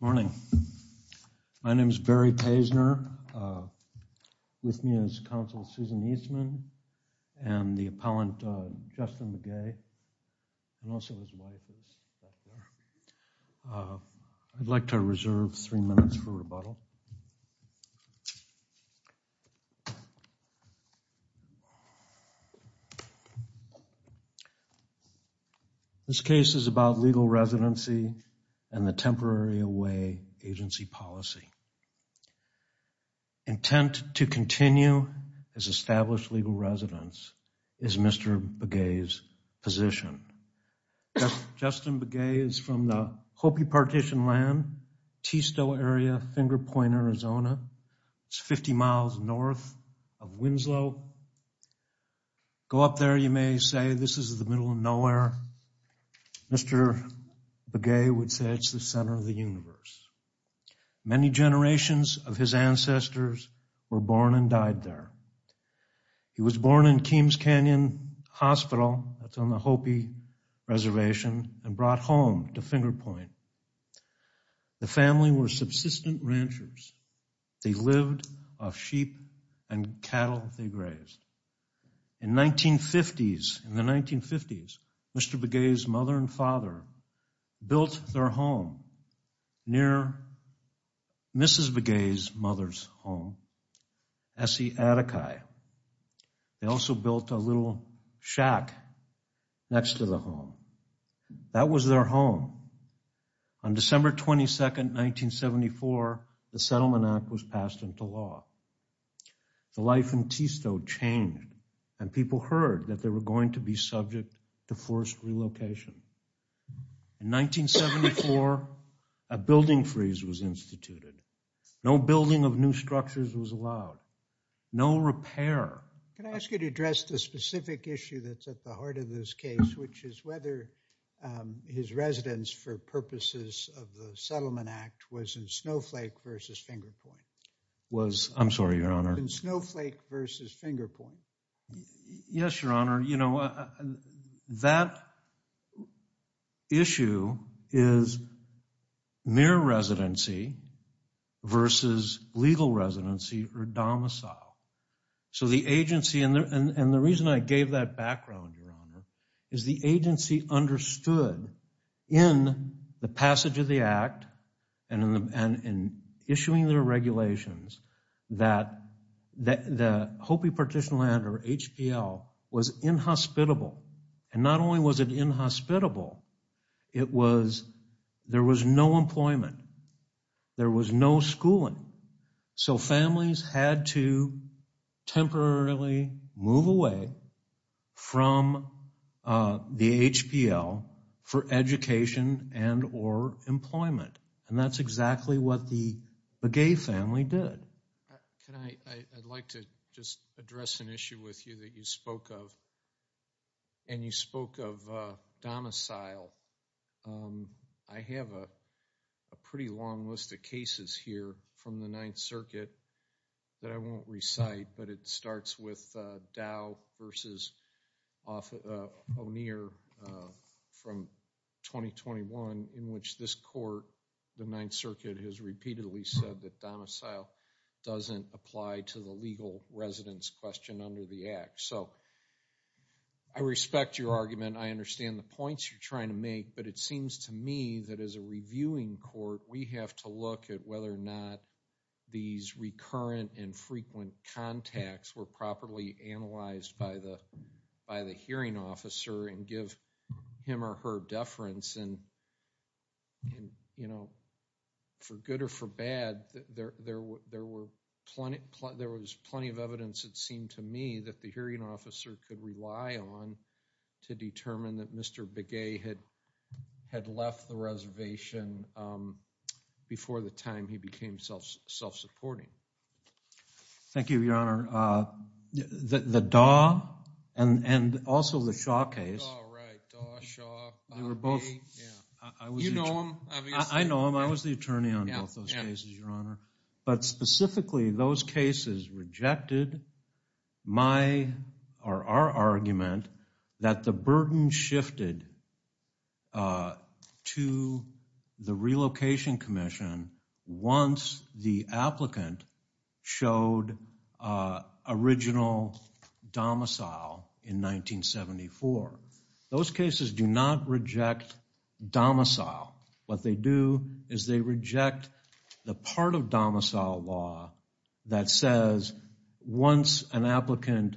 Morning. My name is Barry Paisner. With me is Council Susan Eastman and the appellant Justin Begay and also his wife is back there. I'd like to reserve three minutes for rebuttal. This case is about legal residency and the temporary away agency policy. Intent to continue as established legal residence is Mr. Begay's position. Justin Begay is from the Hopi Partition land, Tisto area, Finger Point, Arizona. It's 50 miles north of Winslow. Go up there, you may say this is the middle of nowhere. Mr. Begay would say it's the center of the universe. Many generations of his ancestors were born and died there. He was born in Keams Canyon Hospital, that's on the Hopi Reservation and brought home to Finger Point. The family were subsistence ranchers. They lived off sheep and cattle they grazed. In 1950s, in the 1950s, Mr. Begay's mother and father built their home near Mrs. Begay's mother's home, S.E. Atikai. They also built a little shack next to the home. That was their home. On December 22, 1974, the Settlement Act was passed into law. The life in Tisto changed and people heard that they were going to be subject to forced relocation. In 1974, a building freeze was instituted. No building of new structures was allowed. No repair. Can I ask you to address the specific issue that's at the heart of this case, which is whether his residence for purposes of the Settlement Act was in Snowflake versus Finger Point? I'm sorry, Your Honor. In Snowflake versus Finger Point? Yes, Your Honor. You know, that issue is mere residency versus legal residency or domicile. So the agency, and the reason I gave that background, Your Honor, is the agency understood in the passage of the act and in issuing their regulations that the Hopi Partition Land or HPL was inhospitable. And not only was it inhospitable, it was, there was no employment. There was no schooling. So the HPL for education and or employment. And that's exactly what the Begay family did. Can I, I'd like to just address an issue with you that you spoke of. And you spoke of domicile. I have a pretty long list of cases here from the Ninth O'Neill from 2021 in which this court, the Ninth Circuit, has repeatedly said that domicile doesn't apply to the legal residence question under the act. So I respect your argument. I understand the points you're trying to make. But it seems to me that as a reviewing court, we have to look at whether or not these recurrent and frequent contacts were properly analyzed by the hearing officer and give him or her deference. And, you know, for good or for bad, there was plenty of evidence, it seemed to me, that the hearing officer could rely on to determine that Mr. Begay had left the reservation before the time he became self-supporting. Thank you, Your Honor. The Daw and also the Shaw case, they were both, I was the attorney on both those cases, Your Honor. But specifically, those cases rejected my, or our argument that the burden shifted to the relocation commission once the court showed original domicile in 1974. Those cases do not reject domicile. What they do is they reject the part of domicile law that says once an applicant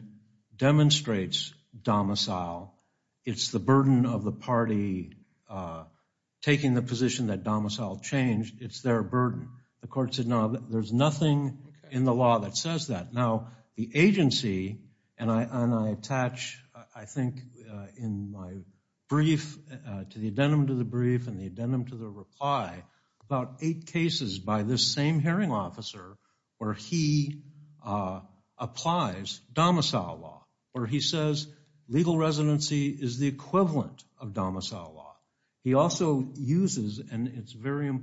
demonstrates domicile, it's the burden of the party taking the position that domicile changed, it's their burden. The court said, no, there's nothing in the law that says that. Now, the agency, and I attach, I think, in my brief, to the addendum to the brief and the addendum to the reply, about eight cases by this same hearing officer where he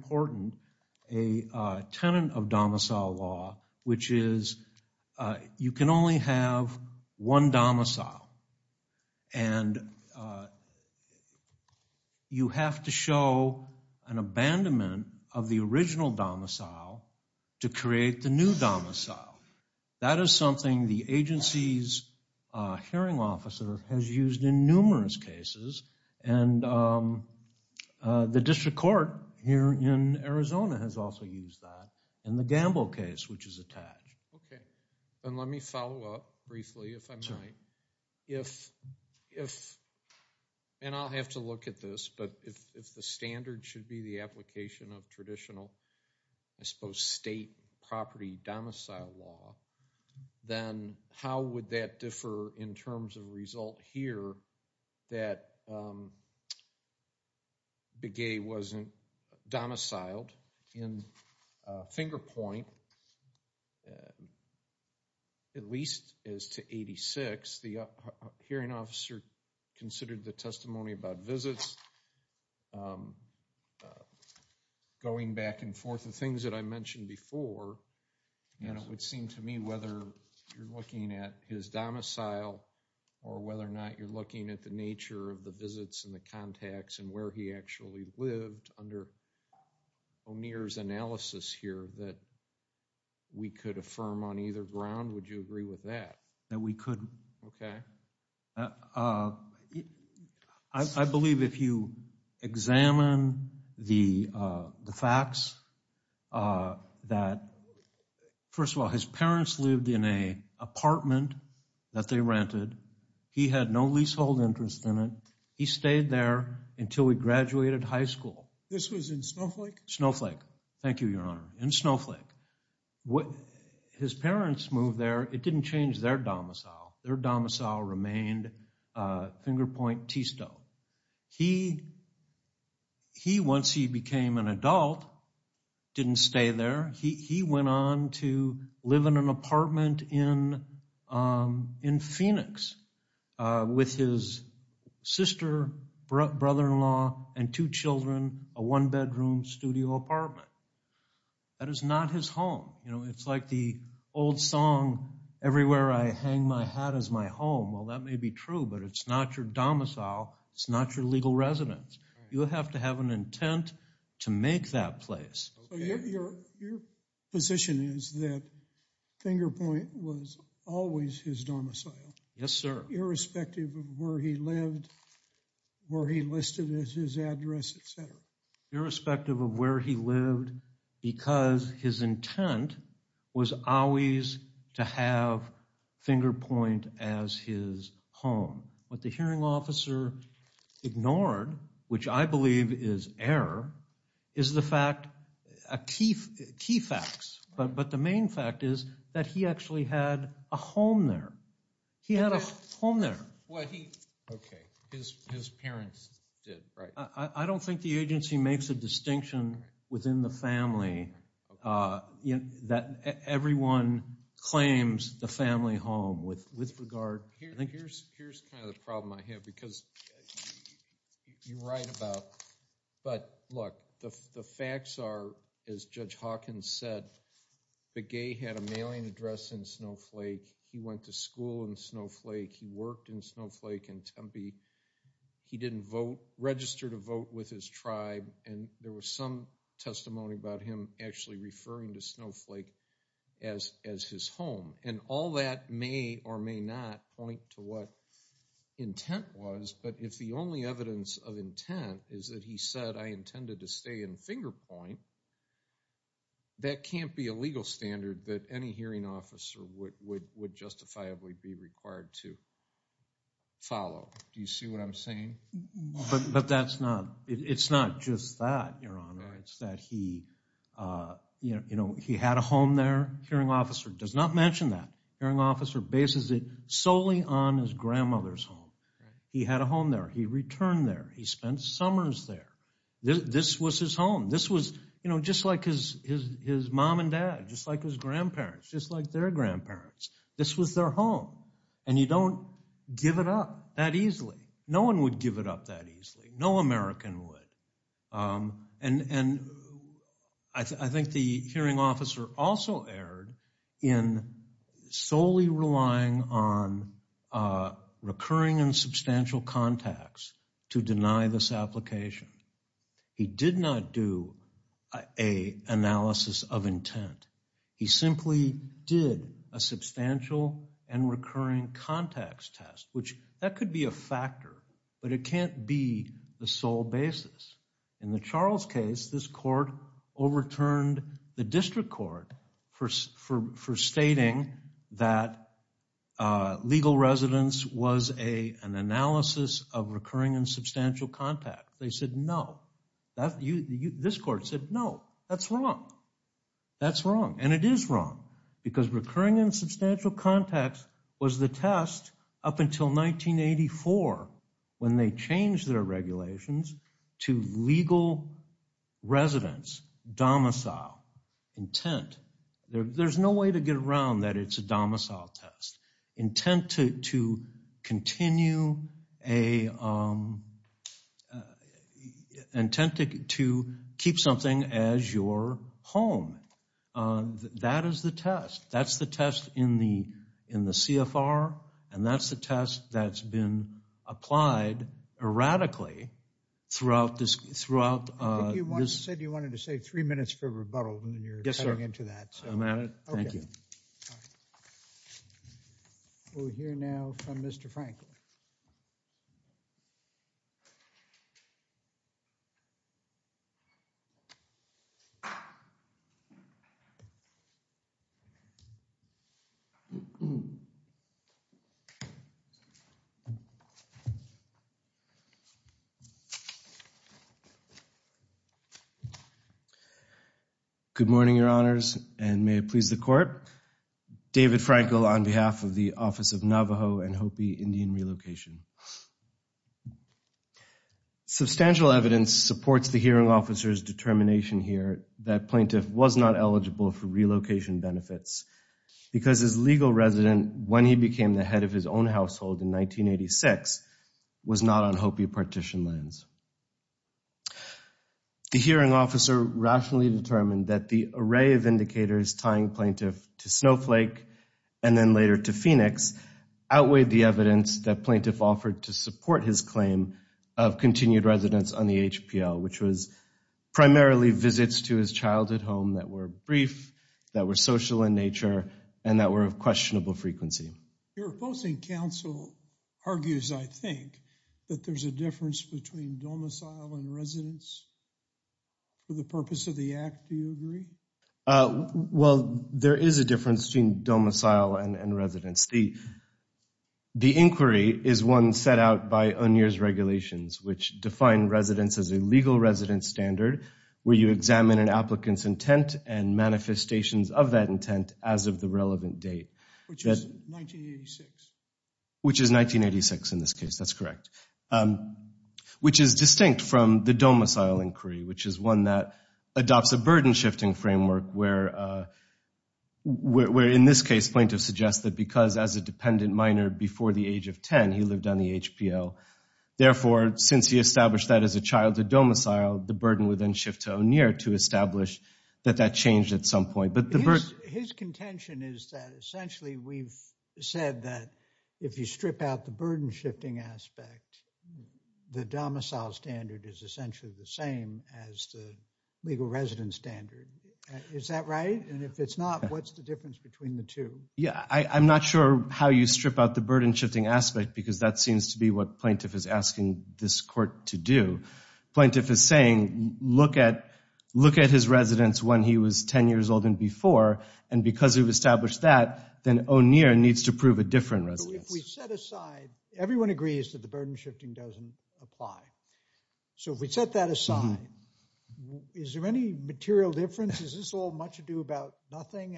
important a tenet of domicile law, which is you can only have one domicile and you have to show an abandonment of the original domicile to create the new domicile. That is something the agency's hearing officer has used in numerous cases and the district court here in Arizona has also used that in the Gamble case, which is attached. Okay, and let me follow up briefly if I might. If, and I'll have to look at this, but if the standard should be the application of traditional, I suppose, state property domicile law, then how would that differ in terms of result here that Begay wasn't domiciled in finger point, at least as to 86, the hearing officer considered the his domicile or whether or not you're looking at the nature of the visits and the contacts and where he actually lived under O'Neill's analysis here that we could affirm on either ground, would you agree with that? That we could. Okay. I believe if you examine the facts that, first of all, his parents lived in an apartment that they rented. He had no leasehold interest in it. He stayed there until he graduated high school. This was in Snowflake? Snowflake. Thank you, Your Honor. In Snowflake. His parents moved there. It didn't change their domicile. Their domicile remained finger point, T-stone. He, once he became an adult, didn't stay there. He went on to live in an apartment in Phoenix with his sister, brother-in-law, and two children, a one-bedroom studio apartment. That is not his home. You know, it's like the old song, everywhere I hang my hat is my home. Well, that may be true, but it's not your domicile. It's not your legal residence. You have to have an intent to make that place. So, your position is that finger point was always his domicile? Yes, sir. Irrespective of where he lived, where he listed his address, etc.? Irrespective of where he lived, because his intent was always to have finger point as his home. What the hearing officer ignored, which I believe is error, is the fact, key facts, but the main fact is that he actually had a home there. He had a home there. Okay, his parents did, right? I don't think the agency makes a distinction within the family that everyone claims the family home with regard. Here's kind of the problem I have, because you write about, but look, the facts are, as Judge Hawkins said, Begay had a mailing address in Snowflake. He went to school in Snowflake. He worked in Snowflake and Tempe. He didn't register to vote with his tribe, and there was some testimony about him actually referring to Snowflake as his home, and all that may or may not point to what intent was, but if the only evidence of intent is that he said, I intended to stay in Finger Point, that can't be a legal standard that any hearing officer would justifiably be required to follow. Do you see what I'm saying? No one would give it up that easily. No American would, and I think the hearing officer also erred in solely relying on recurring and substantial contacts to deny this application. He did not do an analysis of intent. He simply did a substantial and recurring contacts test, which that could be a factor, but it can't be the sole basis. In the Charles case, this court overturned the district court for stating that legal residence was an analysis of recurring and substantial contacts. They said no. This court said no. That's wrong. That's wrong, and it is wrong because recurring and substantial contacts was the test up until 1984 when they changed their regulations to legal residence, domicile, intent. There's no way to get around that it's a domicile test, intent to continue a, intent to keep something as your home. That is the test. That's the test in the CFR, and that's the test that's been applied erratically throughout this. I think you said you wanted to save three minutes for rebuttal, and then you're cutting into that. I'm at it. Thank you. We'll hear now from Mr. Franklin. Good morning, Your Honors, and may it please the court. David Franklin on behalf of the Office of Navajo and Hopi Indian Relocation. Substantial evidence supports the hearing officer's determination here that plaintiff was not eligible for relocation benefits because his legal resident, when he became the head of his own household in 1986, was not on Hopi partition lands. The hearing officer rationally determined that the array of indicators tying plaintiff to Snowflake and then later to Phoenix outweighed the evidence that plaintiff offered to support his claim of continued residence on the HPL, which was primarily visits to his childhood home that were brief, that were social in nature, and that were of questionable frequency. Your opposing counsel argues, I think, that there's a difference between domicile and residence. For the purpose of the act, do you agree? Well, there is a difference between domicile and residence. The inquiry is one set out by O'Neill's regulations, which define residence as a legal resident standard where you examine an applicant's intent and manifestations of that intent as of the relevant date. Which is 1986. That's correct. Which is distinct from the domicile inquiry, which is one that adopts a burden-shifting framework where, in this case, plaintiff suggests that because as a dependent minor before the age of 10, he lived on the HPL, therefore, since he established that as a childhood domicile, the burden would then shift to O'Neill to establish that that changed at some point. His contention is that essentially we've said that if you strip out the burden-shifting aspect, the domicile standard is essentially the same as the legal residence standard. Is that right? And if it's not, what's the difference between the two? Yeah, I'm not sure how you strip out the burden-shifting aspect because that seems to be what plaintiff is asking this court to do. Plaintiff is saying, look at his residence when he was 10 years old and before, and because we've established that, then O'Neill needs to prove a different residence. Everyone agrees that the burden-shifting doesn't apply. So if we set that aside, is there any material difference? Is this all much ado about nothing?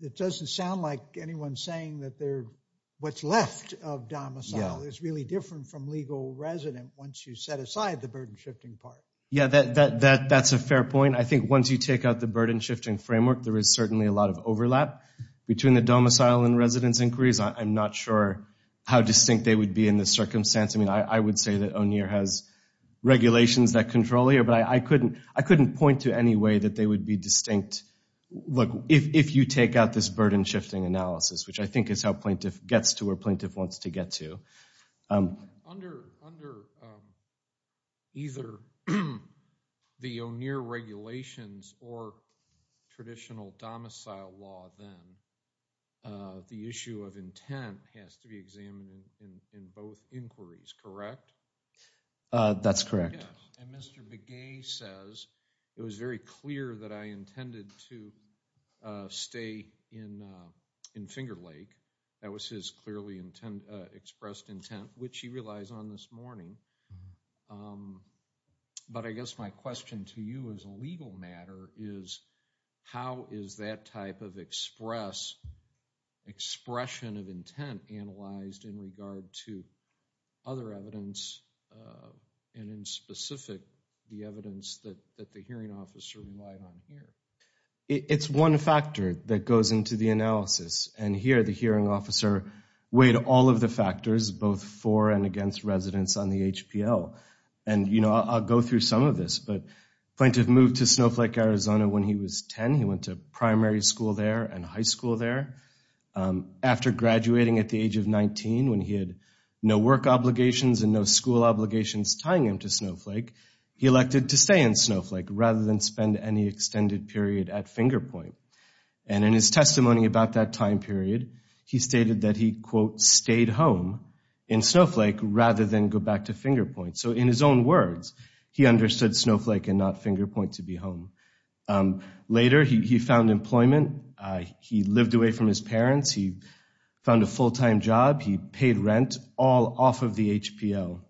It doesn't sound like anyone's saying that what's left of domicile is really different from legal resident once you set aside the burden-shifting part. Yeah, that's a fair point. I think once you take out the burden-shifting framework, there is certainly a lot of overlap between the domicile and residence inquiries. I'm not sure how distinct they would be in this circumstance. I would say that O'Neill has regulations that control here, but I couldn't point to any way that they would be distinct. Look, if you take out this burden-shifting analysis, which I think is how plaintiff gets to where plaintiff wants to get to. Under either the O'Neill regulations or traditional domicile law then, the issue of intent has to be examined in both inquiries, correct? That's correct. And Mr. Begay says, it was very clear that I intended to stay in Finger Lake. That was his clearly expressed intent, which he relies on this morning. But I guess my question to you as a legal matter is, how is that type of expression of intent analyzed in regard to other evidence, and in specific, the evidence that the hearing officer relied on here? It's one factor that goes into the analysis, and here the hearing officer weighed all of the factors, both for and against residence on the HPL. And I'll go through some of this, but plaintiff moved to Snowflake, Arizona when he was 10. He went to primary school there and high school there. After graduating at the age of 19, when he had no work obligations and no school obligations tying him to Snowflake, he elected to stay in Snowflake rather than spend any extended period at Finger Point. And in his testimony about that time period, he stated that he, quote, stayed home in Snowflake rather than go back to Finger Point. So in his own words, he understood Snowflake and not Finger Point to be home. Later, he found employment. He lived away from his parents. He found a full-time job. He paid rent all off of the HPL.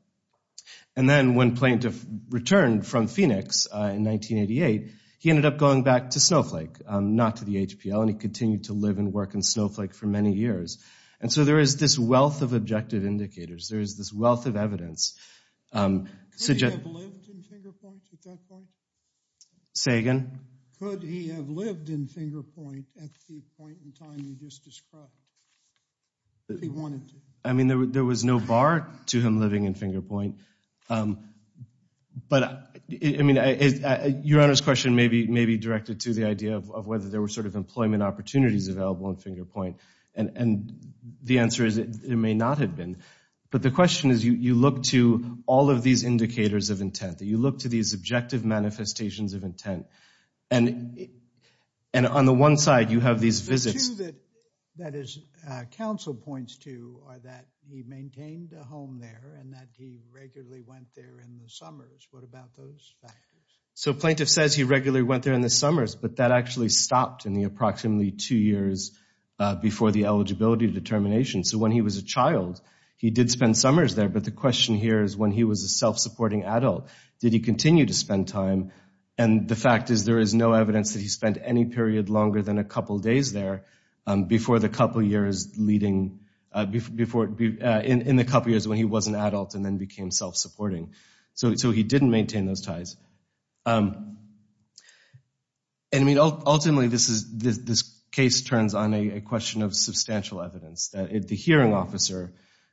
And then when plaintiff returned from Phoenix in 1988, he ended up going back to Snowflake, not to the HPL, and he continued to live and work in Snowflake for many years. And so there is this wealth of objective indicators. There is this wealth of evidence. Could he have lived in Finger Point at that point? Say again? Could he have lived in Finger Point at the point in time you just described, if he wanted to? I mean, there was no bar to him living in Finger Point. But, I mean, Your Honor's question may be directed to the idea of whether there were sort of employment opportunities available in Finger Point. And the answer is it may not have been. But the question is you look to all of these indicators of intent, that you look to these objective manifestations of intent. And on the one side, you have these visits. The two that his counsel points to are that he maintained a home there and that he regularly went there in the summers. What about those factors? So plaintiff says he regularly went there in the summers, but that actually stopped in the approximately two years before the eligibility determination. So when he was a child, he did spend summers there. But the question here is when he was a self-supporting adult, did he continue to spend time? And the fact is there is no evidence that he spent any period longer than a couple days there in the couple years when he was an adult and then became self-supporting. So he didn't maintain those ties. Ultimately, this case turns on a question of substantial evidence. The hearing officer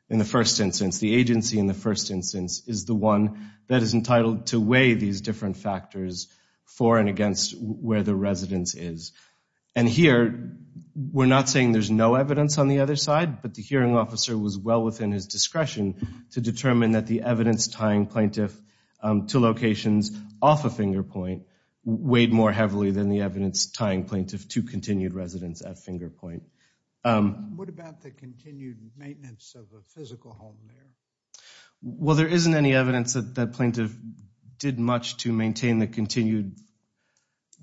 in the first instance, the agency in the first instance, is the one that is entitled to weigh these different factors for and against where the residence is. And here, we're not saying there's no evidence on the other side. But the hearing officer was well within his discretion to determine that the evidence tying plaintiff to locations off of Finger Point weighed more heavily than the evidence tying plaintiff to continued residence at Finger Point. What about the continued maintenance of a physical home there? Well, there isn't any evidence that the plaintiff did much to maintain the continued,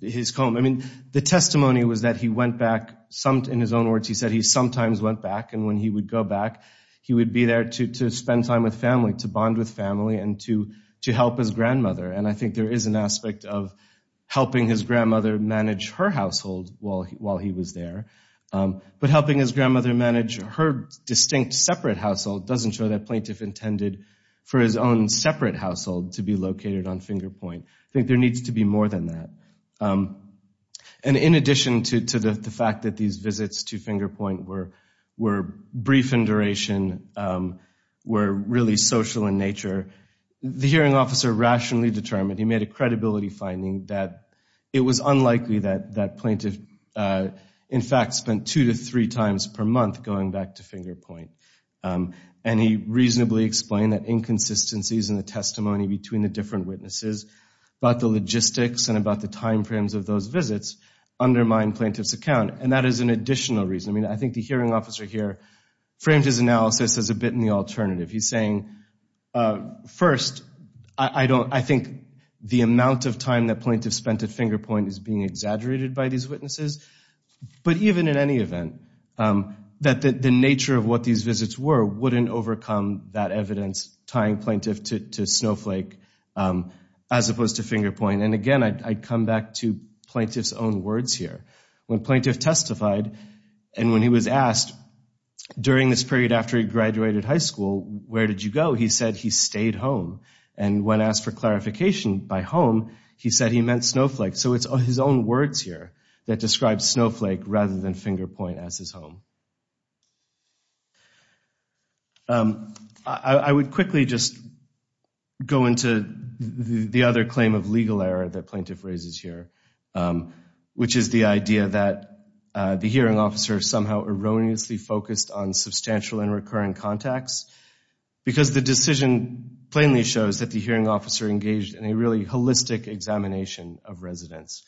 his home. I mean, the testimony was that he went back, in his own words, he said he sometimes went back. And when he would go back, he would be there to spend time with family, to bond with family, and to help his grandmother. And I think there is an aspect of helping his grandmother manage her household while he was there. But helping his grandmother manage her distinct separate household doesn't show that plaintiff intended for his own separate household to be located on Finger Point. I think there needs to be more than that. And in addition to the fact that these visits to Finger Point were brief in duration, were really social in nature, the hearing officer rationally determined, he made a credibility finding, that it was unlikely that that plaintiff, in fact, spent two to three times per month going back to Finger Point. And he reasonably explained that inconsistencies in the testimony between the different witnesses, about the logistics and about the time frames of those visits, undermine plaintiff's account. And that is an additional reason. I mean, I think the hearing officer here framed his analysis as a bit in the alternative. He's saying, first, I think the amount of time that plaintiff spent at Finger Point is being exaggerated by these witnesses. But even in any event, that the nature of what these visits were wouldn't overcome that evidence tying plaintiff to Snowflake as opposed to Finger Point. And again, I'd come back to plaintiff's own words here. When plaintiff testified and when he was asked during this period after he graduated high school, where did you go? He said he stayed home. And when asked for clarification by home, he said he meant Snowflake. So it's his own words here that describe Snowflake rather than Finger Point as his home. I would quickly just go into the other claim of legal error that plaintiff raises here, which is the idea that the hearing officer somehow erroneously focused on substantial and recurring contacts because the decision plainly shows that the hearing officer engaged in a really holistic examination of residents,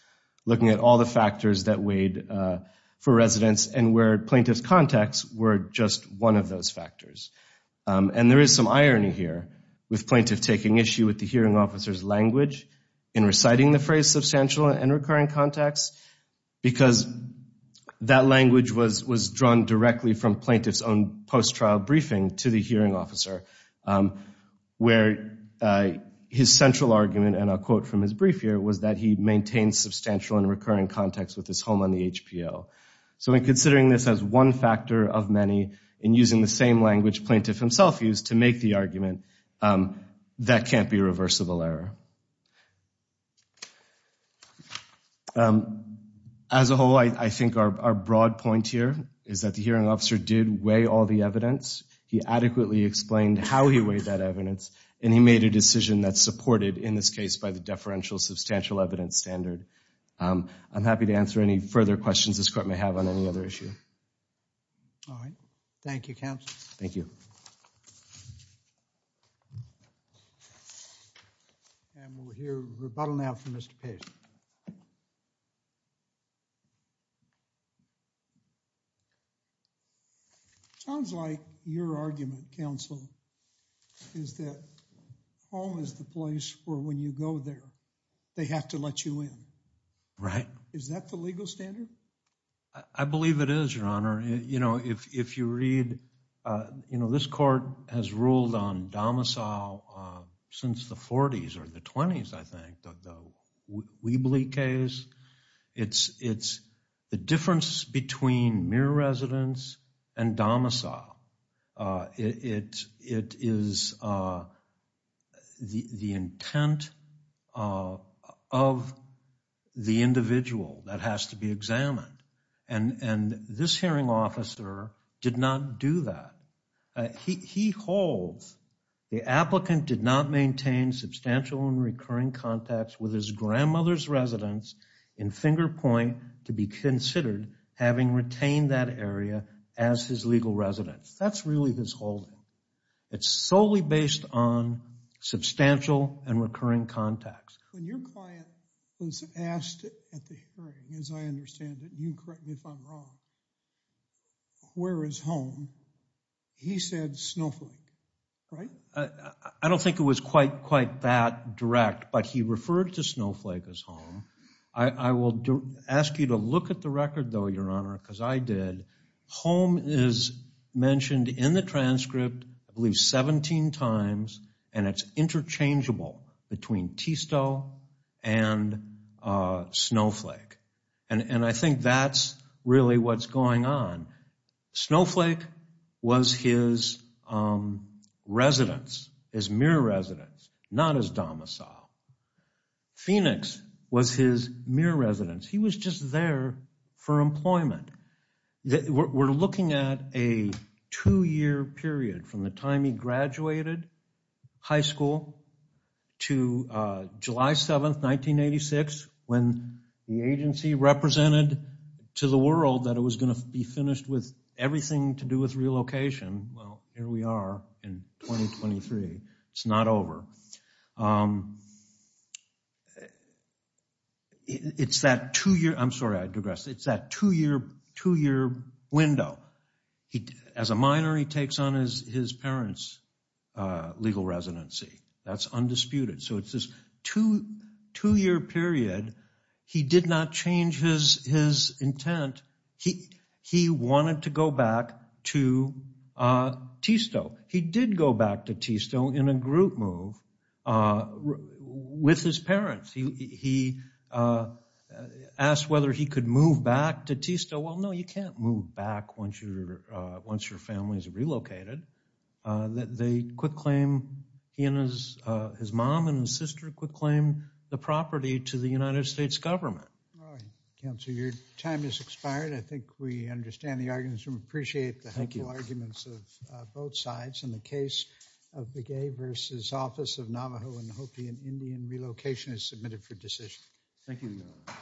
looking at all the factors that weighed for residents and where plaintiff's contacts were just one of those factors. And there is some irony here with plaintiff taking issue with the hearing officer's language in reciting the phrase substantial and recurring contacts because that language was drawn directly from plaintiff's own post-trial briefing to the hearing officer, where his central argument, and I'll quote from his brief here, was that he maintained substantial and recurring contacts with his home on the HPO. So in considering this as one factor of many and using the same language plaintiff himself used to make the argument, that can't be reversible error. As a whole, I think our broad point here is that the hearing officer did weigh all the evidence. He adequately explained how he weighed that evidence, and he made a decision that's supported in this case by the deferential substantial evidence standard. I'm happy to answer any further questions this court may have on any other issue. All right. Thank you, counsel. Thank you. And we'll hear rebuttal now from Mr. Pace. Sounds like your argument, counsel, is that home is the place where when you go there, they have to let you in. Right. Is that the legal standard? I believe it is, Your Honor. You know, if you read, you know, this court has ruled on domicile since the 40s or the 20s, I think. The Weebly case. It's the difference between mere residence and domicile. It is the intent of the individual that has to be examined. And this hearing officer did not do that. He holds the applicant did not maintain substantial and recurring contacts with his grandmother's residence in Finger Point to be considered having retained that area as his legal residence. That's really his holding. It's solely based on substantial and recurring contacts. When your client was asked at the hearing, as I understand it, you correct me if I'm wrong, where is home? He said Snowflake, right? I don't think it was quite that direct, but he referred to Snowflake as home. I will ask you to look at the record, though, Your Honor, because I did. Home is mentioned in the transcript at least 17 times, and it's interchangeable between Tisto and Snowflake. And I think that's really what's going on. Snowflake was his residence, his mere residence, not his domicile. Phoenix was his mere residence. He was just there for employment. We're looking at a two-year period from the time he graduated high school to July 7, 1986, when the agency represented to the world that it was going to be finished with everything to do with relocation. Well, here we are in 2023. It's not over. It's that two-year window. As a minor, he takes on his parents' legal residency. That's undisputed. So it's this two-year period. He did not change his intent. He wanted to go back to Tisto. He did go back to Tisto in a group move with his parents. He asked whether he could move back to Tisto. Well, no, you can't move back once your family is relocated. They quitclaim, he and his mom and his sister quitclaim the property to the United States government. Counsel, your time has expired. I think we understand the arguments. I appreciate the arguments of both sides. In the case of Begay v. Office of Navajo and Hopi and Indian, relocation is submitted for decision. Thank you.